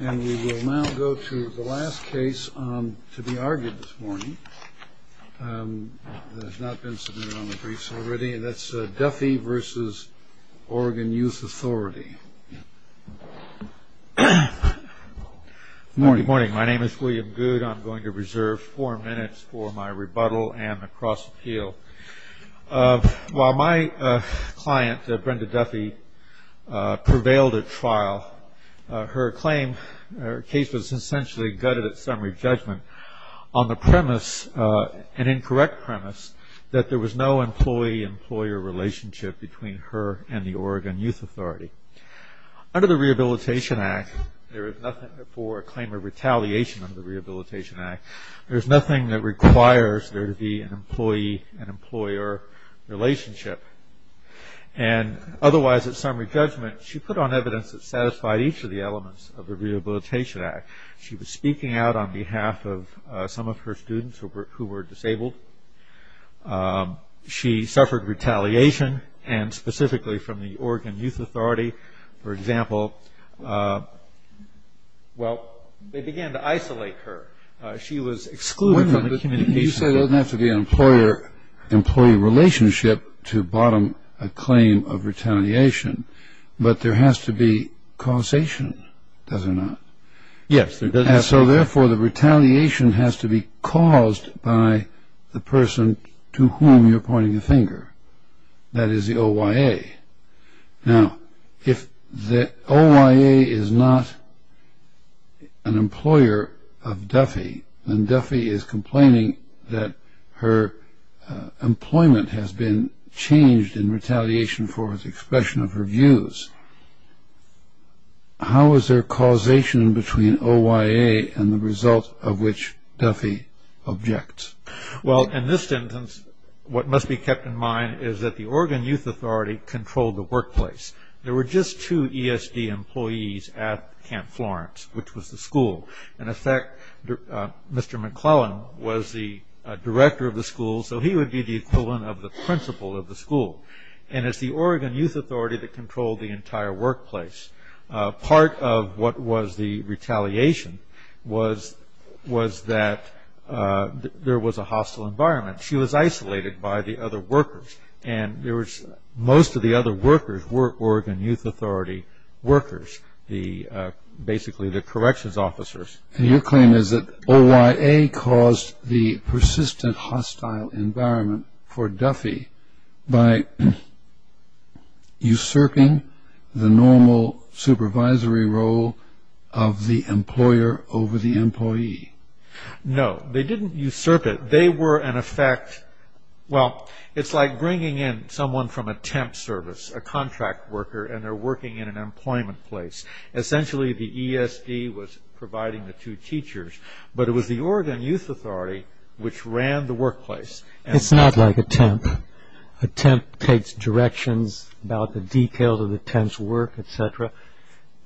And we will now go to the last case to be argued this morning that has not been submitted on the briefs already, and that's Duffy v. Oregon Youth Authority. Good morning. My name is William Goode. I'm going to reserve four minutes for my rebuttal and a cross-appeal. While my client, Brenda Duffy, prevailed at trial, her case was essentially gutted at summary judgment on the premise, an incorrect premise, that there was no employee-employer relationship between her and the Oregon Youth Authority. Under the Rehabilitation Act, there is nothing for a claim of retaliation under the Rehabilitation Act. There is nothing that requires there to be an employee-employer relationship. Otherwise, at summary judgment, she put on evidence that satisfied each of the elements of the Rehabilitation Act. She was speaking out on behalf of some of her students who were disabled. She suffered retaliation, and specifically from the Oregon Youth Authority. For example, well, they began to isolate her. She was excluded from the communication. You say there doesn't have to be an employee-employer relationship to bottom a claim of retaliation, but there has to be causation, does there not? Yes, there does have to be. And so, therefore, the retaliation has to be caused by the person to whom you're pointing a finger. That is the OYA. Now, if the OYA is not an employer of Duffy, then Duffy is complaining that her employment has been changed in retaliation for the expression of her views. How is there causation between OYA and the result of which Duffy objects? Well, in this instance, what must be kept in mind is that the Oregon Youth Authority controlled the workplace. There were just two ESD employees at Camp Florence, which was the school. In effect, Mr. McClellan was the director of the school, so he would be the equivalent of the principal of the school. And it's the Oregon Youth Authority that controlled the entire workplace. Part of what was the retaliation was that there was a hostile environment. She was isolated by the other workers, and most of the other workers were Oregon Youth Authority workers, basically the corrections officers. And your claim is that OYA caused the persistent hostile environment for Duffy by usurping the normal supervisory role of the employer over the employee. No, they didn't usurp it. They were, in effect, well, it's like bringing in someone from a temp service, a contract worker, and they're working in an employment place. Essentially, the ESD was providing the two teachers, but it was the Oregon Youth Authority which ran the workplace. It's not like a temp. A temp takes directions about the details of the temp's work, et cetera.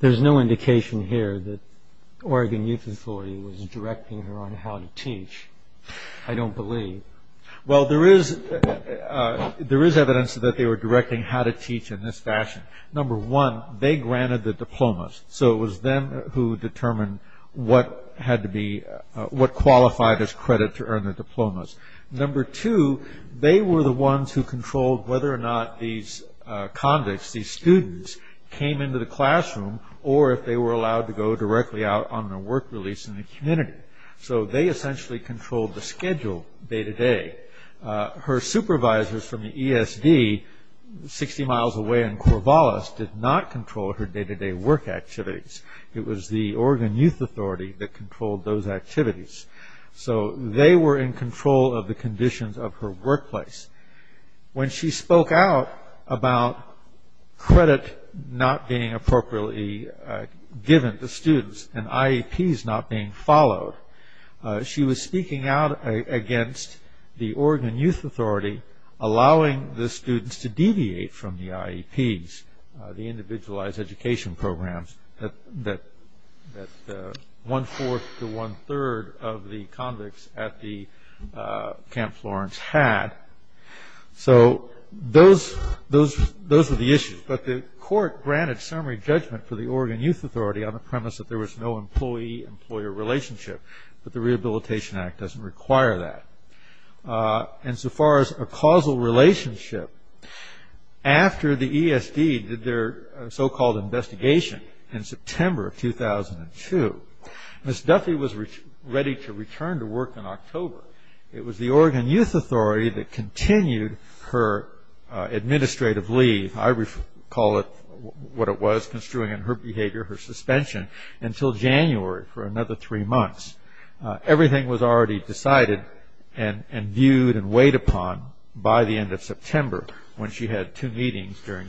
There's no indication here that Oregon Youth Authority was directing her on how to teach, I don't believe. Well, there is evidence that they were directing how to teach in this fashion. Number one, they granted the diplomas, so it was them who determined what qualified as credit to they were the ones who controlled whether or not these convicts, these students, came into the classroom or if they were allowed to go directly out on their work release in the community. So they essentially controlled the schedule day to day. Her supervisors from the ESD, 60 miles away in Corvallis, did not control her day to day work activities. It was the Oregon Youth Authority that controlled those activities. So they were in control of the conditions of her workplace. When she spoke out about credit not being appropriately given to students and IEPs not being followed, she was speaking out against the Oregon Youth Authority allowing the students to deviate from the IEPs, the Individualized Education Programs, that one-fourth to one-third of the convicts at the Camp Florence had. So those were the issues. But the court granted summary judgment for the Oregon Youth Authority on the premise that there was no employee-employer relationship, but the Rehabilitation Act doesn't require that. And so far as a causal relationship, after the ESD did their so-called investigation in September of 2002, Ms. Duffy was ready to return to work in October. It was the Oregon Youth Authority that continued her administrative leave. I recall what it was construing in her behavior, her suspension, until January for another three months. Everything was already decided and viewed and weighed upon by the end of September when she had two meetings during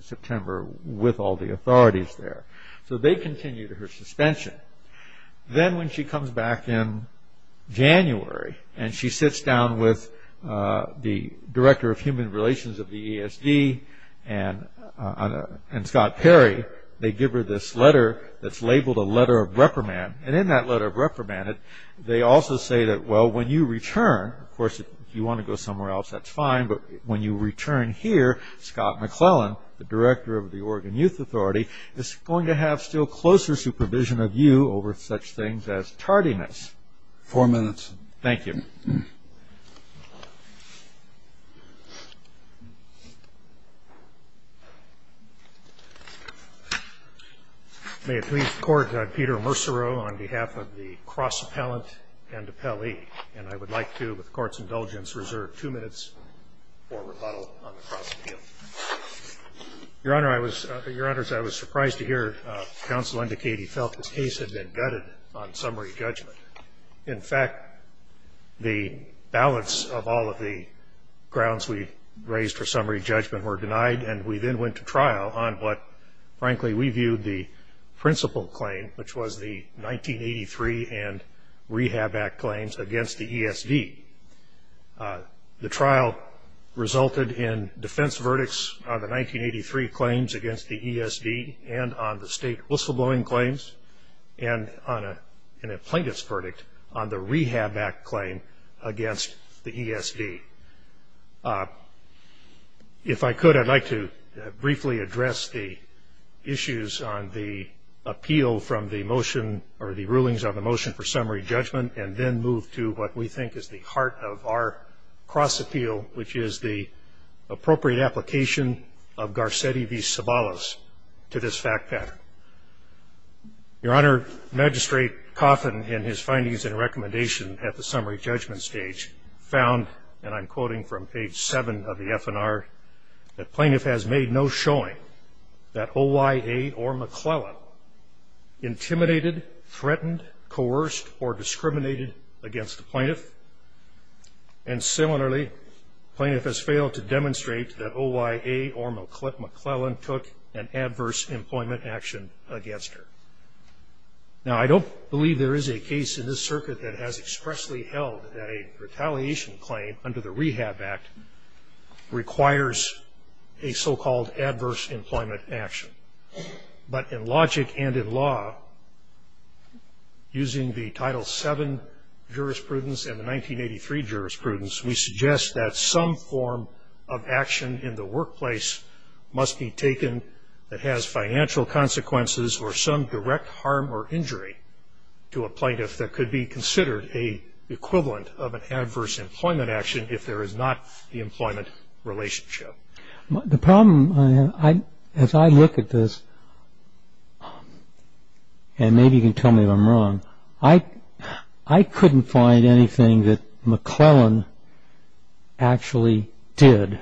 September with all the authorities there. So they continued her suspension. Then when she comes back in January and she sits down with the Director of Human Relations of the ESD and Scott Perry, they give her this letter that's labeled a letter of reprimand. In that letter of reprimand, they also say that, well, when you return, of course, if you're here, Scott McClellan, the Director of the Oregon Youth Authority, is going to have still closer supervision of you over such things as tardiness. Four minutes. Thank you. May it please the Court, I'm Peter Mercereau on behalf of the Cross Appellant and Appellee, and I would like to, with the Court's indulgence, reserve two minutes for rebuttal on the cross appeal. Your Honor, I was surprised to hear counsel indicate he felt the case had been gutted on summary judgment. In fact, the balance of all of the grounds we raised for summary judgment were denied, and we then went to trial on what, frankly, we viewed the principal claim, which was the 1983 and Rehab Act claims against the ESD. The trial resulted in defense verdicts on the 1983 claims against the ESD and on the state whistleblowing claims and on an plaintiff's verdict on the Rehab Act claim against the ESD. If I could, I'd like to briefly address the issues on the appeal from the motion, or the rulings on the motion for summary judgment, and then move to what we think is the heart of our cross appeal, which is the appropriate application of Garcetti v. Sabalas to this fact pattern. Your Honor, Magistrate Coffin, in his findings and recommendation at the summary judgment stage, found, and I'm quoting from page 7 of the FNR, that plaintiff has made no showing that OYA or McClellan intimidated, threatened, coerced, or discriminated against the plaintiff, and similarly, plaintiff has failed to demonstrate that OYA or McClellan took an adverse employment action against her. Now, I don't believe there is a case in this circuit that has expressly held that a retaliation claim under the Rehab Act requires a so-called adverse employment action. But in logic and in law, using the Title VII jurisprudence and the 1983 jurisprudence, we suggest that some form of action in the workplace must be taken that has financial consequences or some direct harm or injury to a plaintiff that could be considered an equivalent of an adverse employment action if there is not the employment relationship. The problem, as I look at this, and maybe you can tell me if I'm wrong, I couldn't find anything that McClellan actually did.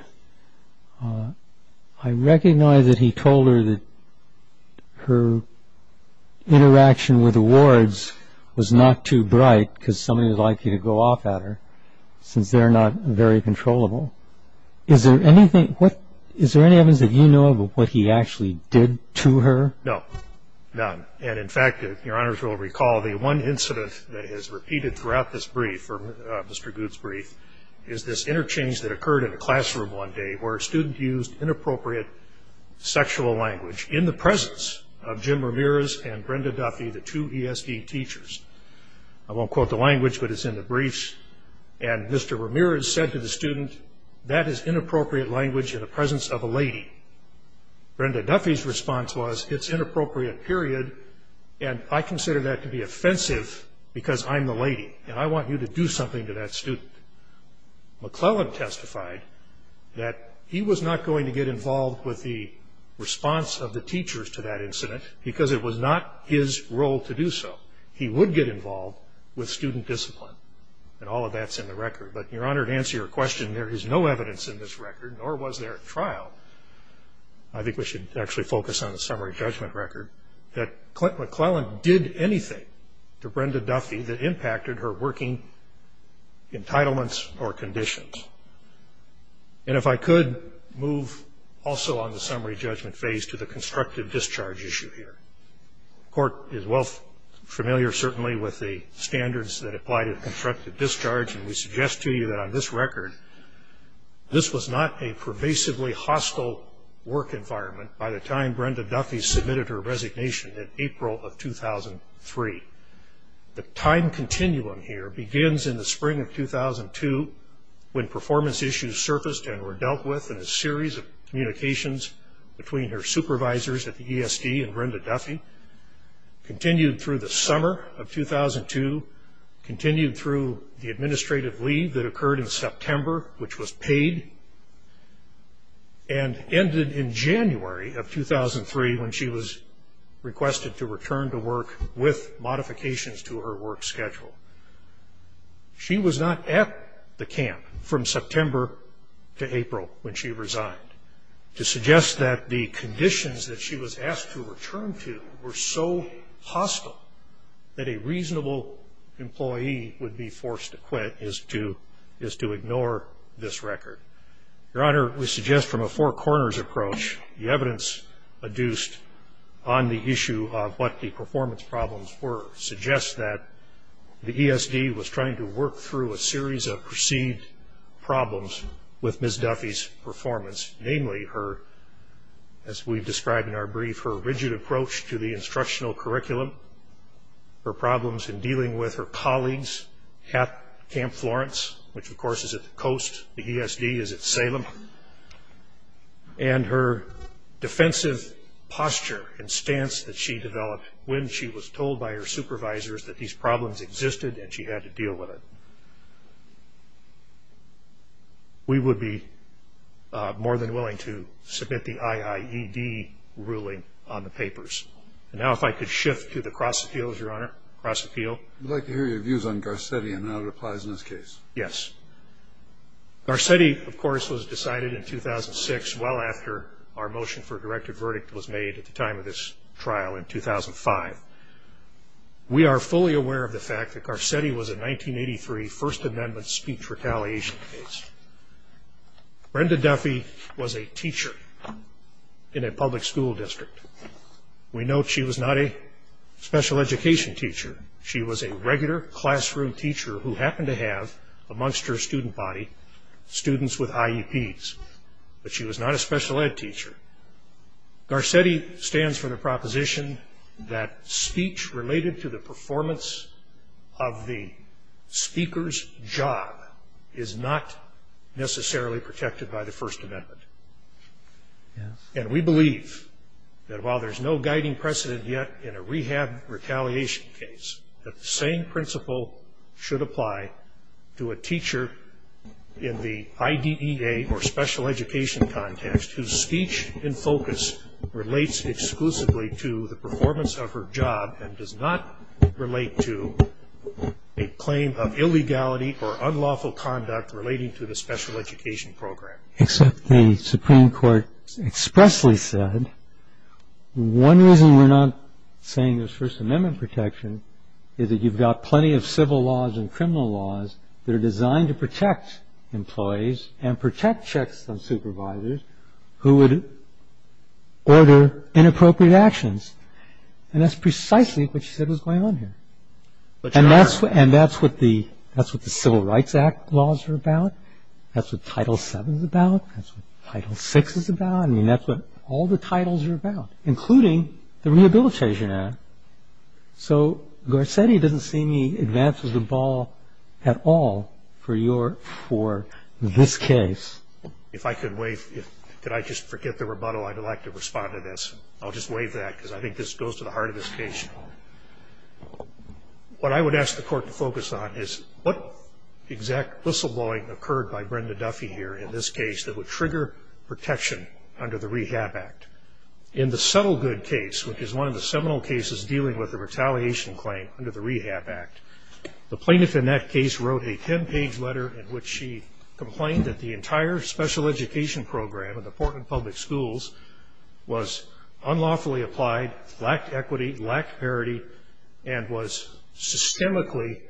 I recognize that he told her that her relationship with her, her interaction with the wards was not too bright because somebody would like you to go off at her, since they're not very controllable. Is there anything, is there any evidence that you know of of what he actually did to her? No, none. And in fact, Your Honors will recall the one incident that is repeated throughout this brief, Mr. Good's brief, is this interchange that occurred in a classroom one day where a student used inappropriate sexual language in the presence of Jim Ramirez and Brenda Duffy, the two ESD teachers. I won't quote the language, but it's in the briefs. And Mr. Ramirez said to the student, that is inappropriate language in the presence of a lady. Brenda Duffy's response was, it's inappropriate, period, and I consider that to be offensive because I'm the lady and I want you to do something to that student. McClellan testified that he was not going to get involved with the response of the teachers to that incident because it was not his role to do so. He would get involved with student discipline and all of that's in the record. But Your Honor, to answer your question, there is no evidence in this record, nor was there at trial. I think we should actually focus on the summary judgment record, that McClellan did anything to Brenda Duffy that impacted her working entitlements or conditions. And if I could move also on the summary judgment phase to the constructive discharge issue here. The Court is well familiar certainly with the standards that apply to constructive discharge and we suggest to you that on this record, this was not a pervasively hostile work environment by the time Brenda Duffy submitted her resignation in April of 2003. The time continuum here begins in the spring of 2002 when performance issues surfaced and were dealt with in a series of communications between her supervisors at the ESD and Brenda Duffy, continued through the summer of 2002, continued through the administrative leave that occurred in September, which was paid, and ended in January of 2003 when she was requested to return to work with modifications to her work schedule. She was not at the camp from September to April when she resigned. To suggest that the conditions that she was asked to return to were so hostile that a Your Honor, we suggest from a four corners approach, the evidence adduced on the issue of what the performance problems were suggests that the ESD was trying to work through a series of perceived problems with Ms. Duffy's performance, namely her, as we've described in our brief, her rigid approach to the instructional curriculum, her problems in dealing with her at Salem, and her defensive posture and stance that she developed when she was told by her supervisors that these problems existed and she had to deal with it. We would be more than willing to submit the IIED ruling on the papers. And now if I could shift to the cross appeals, Your Honor, cross appeal. I'd like to hear your views on Garcetti and how it applies in this case. Yes. Garcetti, of course, was decided in 2006, well after our motion for a directed verdict was made at the time of this trial in 2005. We are fully aware of the fact that Garcetti was a 1983 First Amendment speech retaliation case. Brenda Duffy was a teacher in a public school district. We note she was not a special education teacher. She was a regular classroom teacher who happened to have amongst her student body students with IEPs, but she was not a special ed teacher. Garcetti stands for the proposition that speech related to the performance of the speaker's job is not necessarily protected by the First Amendment. And we believe that while there's no guiding precedent yet in a rehab retaliation case, that the same principle should apply to a teacher in the IDEA or special education context whose speech and focus relates exclusively to the performance of her job and does not relate to a claim of illegality or unlawful conduct relating to the special education program. Except the Supreme Court expressly said one reason we're not saying there's First Amendment protection is that you've got plenty of civil laws and criminal laws that are designed to protect employees and protect checks on supervisors who would order inappropriate actions. And that's precisely what she said was going on here. And that's what the Civil Rights Act laws are about. That's what Title VII is about. That's what Title VI is about. I mean, that's what all the titles are about, including the Rehabilitation Act. So Garcetti doesn't see any advance of the ball at all for your, for this case. If I could wave, could I just forget the rebuttal? I'd like to respond to this. I'll just wave that because I think this goes to the heart of this case. What I would ask the court to do is, what exact whistleblowing occurred by Brenda Duffy here in this case that would trigger protection under the Rehab Act? In the Settlegood case, which is one of the seminal cases dealing with the retaliation claim under the Rehab Act, the plaintiff in that case wrote a ten-page letter in which she complained that the entire special education program at the Portland Public Schools was unlawfully applied, lacked equity, lacked parity, and was systemically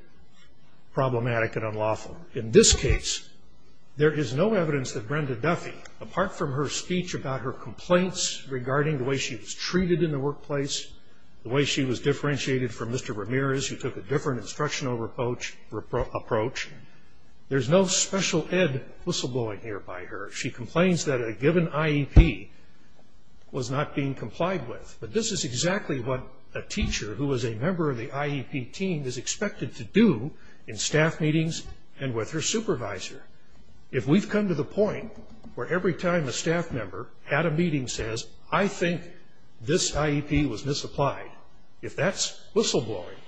problematic and unlawful. In this case, there is no evidence that Brenda Duffy, apart from her speech about her complaints regarding the way she was treated in the workplace, the way she was differentiated from Mr. Ramirez, who took a different instructional approach, there's no special ed whistleblowing here by her. She complains that a given IEP was not being complied with, but this is exactly what a teacher who is a member of the IEP team is expected to do in staff meetings and with her supervisor. If we've come to the point where every time a staff member at a meeting says, I think this IEP was misapplied, if that's whistleblowing,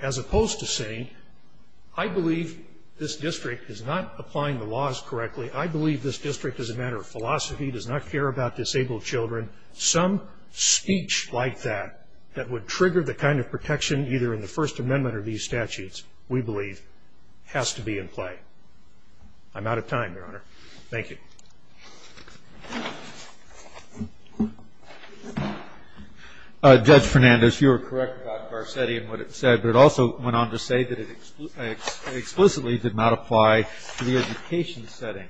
as opposed to saying, I believe this district is not applying the laws correctly, I believe this district is a matter of philosophy, does not care about disabled children, some speech like that that would trigger the kind of protection either in the First Amendment or these statutes, we believe, has to be in play. I'm out of time, Your Honor. Thank you. Judge Fernandez, you were correct about Garcetti and what it said, but it also went on to say that it explicitly did not apply to the education setting.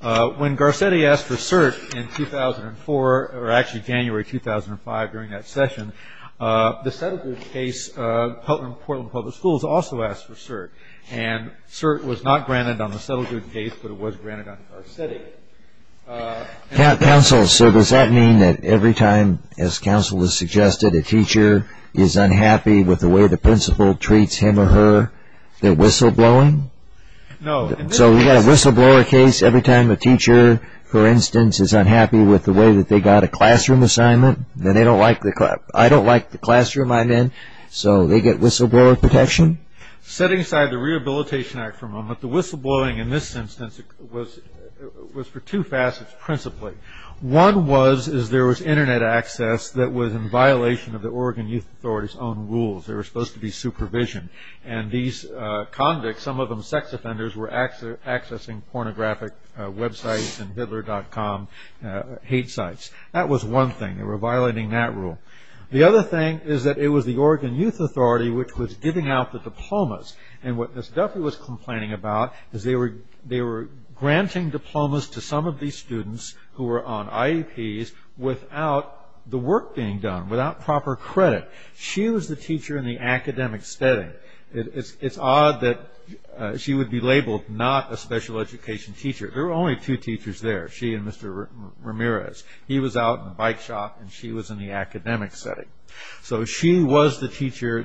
When Garcetti asked for cert in 2005, January 2005 during that session, the settlement case in Portland Public Schools also asked for cert, and cert was not granted on the settlement case, but it was granted on Garcetti. Counsel, sir, does that mean that every time, as counsel has suggested, a teacher is unhappy with the way the principal treats him or her, they're whistleblowing? No. So we've got a whistleblower case every time a teacher, for instance, is unhappy with the way that they got a classroom assignment, then they don't like the classroom I'm in, so they get whistleblower protection? Setting aside the Rehabilitation Act for a moment, the whistleblowing in this instance was for two facets principally. One was is there was internet access that was in violation of the Oregon Youth Authority's own rules. There was supposed to be supervision, and these convicts, some of them sex offenders, were accessing pornographic websites and hitler.com hate sites. That was one thing. They were violating that rule. The other thing is that it was the Oregon Youth Authority which was giving out the diplomas, and what Ms. Duffy was complaining about is they were granting diplomas to some of these students who were on IEPs without the work being done, without proper credit. She was the teacher in the academic setting. It's odd that she would be labeled not a special education teacher. There were only two teachers there, she and Mr. Ramirez. He was out in the bike shop, and she was in the academic setting. She was the teacher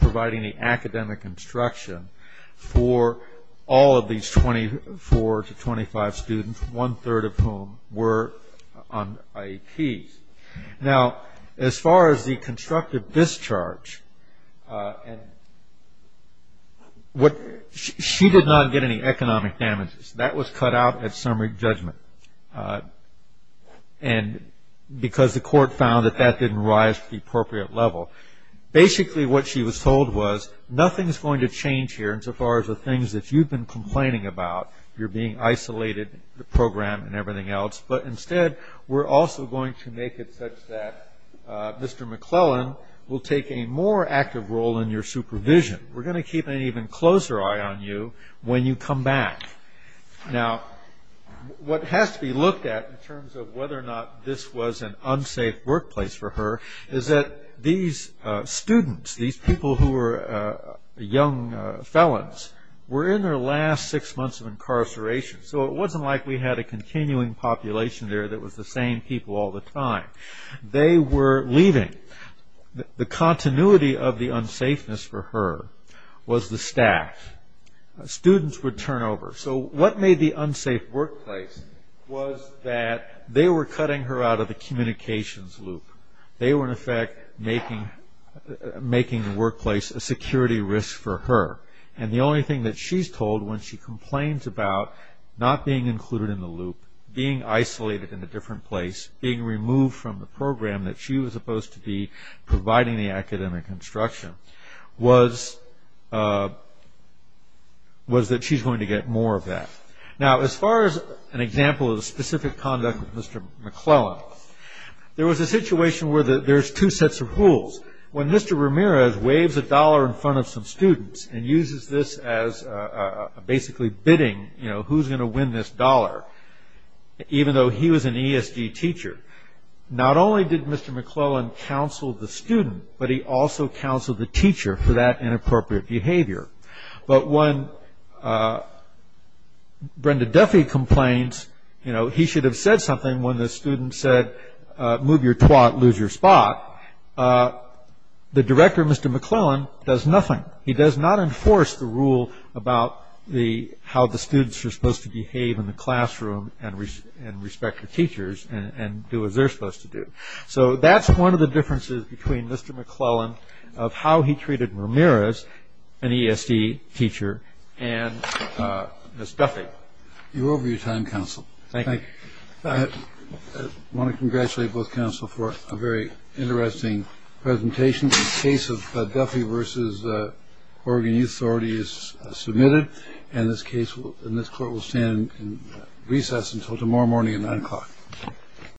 providing the academic instruction for all of these 24 to 25 students, one-third of whom were on IEPs. As far as the constructive discharge, she did not get any economic damage from that exercise. That was cut out at summary judgment, because the court found that that didn't rise to the appropriate level. Basically, what she was told was, nothing is going to change here as far as the things that you've been complaining about. You're being isolated in the program and everything else, but instead, we're also going to make it such that Mr. McClellan will take a more active role in your supervision. We're going to keep an even closer eye on you when you come back. What has to be looked at in terms of whether or not this was an unsafe workplace for her, is that these students, these people who were young felons, were in their last six months of incarceration. It wasn't like we had a continuing population there that was the same people all the time. They were leaving. The continuity of the unsafeness for her was the staff. Students would turn over. What made the unsafe workplace was that they were cutting her out of the communications loop. They were, in effect, making the workplace a security risk for her. The only thing that she's told when she complains about not being included in the loop, being isolated in a different place, being removed from the program that she was supposed to be providing the academic instruction, was that she's going to get more of that. As far as an example of the specific conduct of Mr. McClellan, there was a situation where there's two sets of rules. When Mr. Ramirez waves a dollar in front of some students and uses this as basically bidding, who's going to win this dollar, even though he was an instructor, Mr. McClellan counseled the student, but he also counseled the teacher for that inappropriate behavior. When Brenda Duffy complains, he should have said something when the student said, move your twat, lose your spot, the director, Mr. McClellan, does nothing. He does not enforce the rule about how the students are supposed to behave in the classroom and respect the rules. That's one of the differences between Mr. McClellan of how he treated Ramirez, an ESD teacher, and Ms. Duffy. You're over your time, counsel. Thank you. I want to congratulate both counsel for a very interesting presentation. The case of Duffy v. Oregon Youth Authority is submitted, and this court will stand in recess until tomorrow morning at 9 o'clock.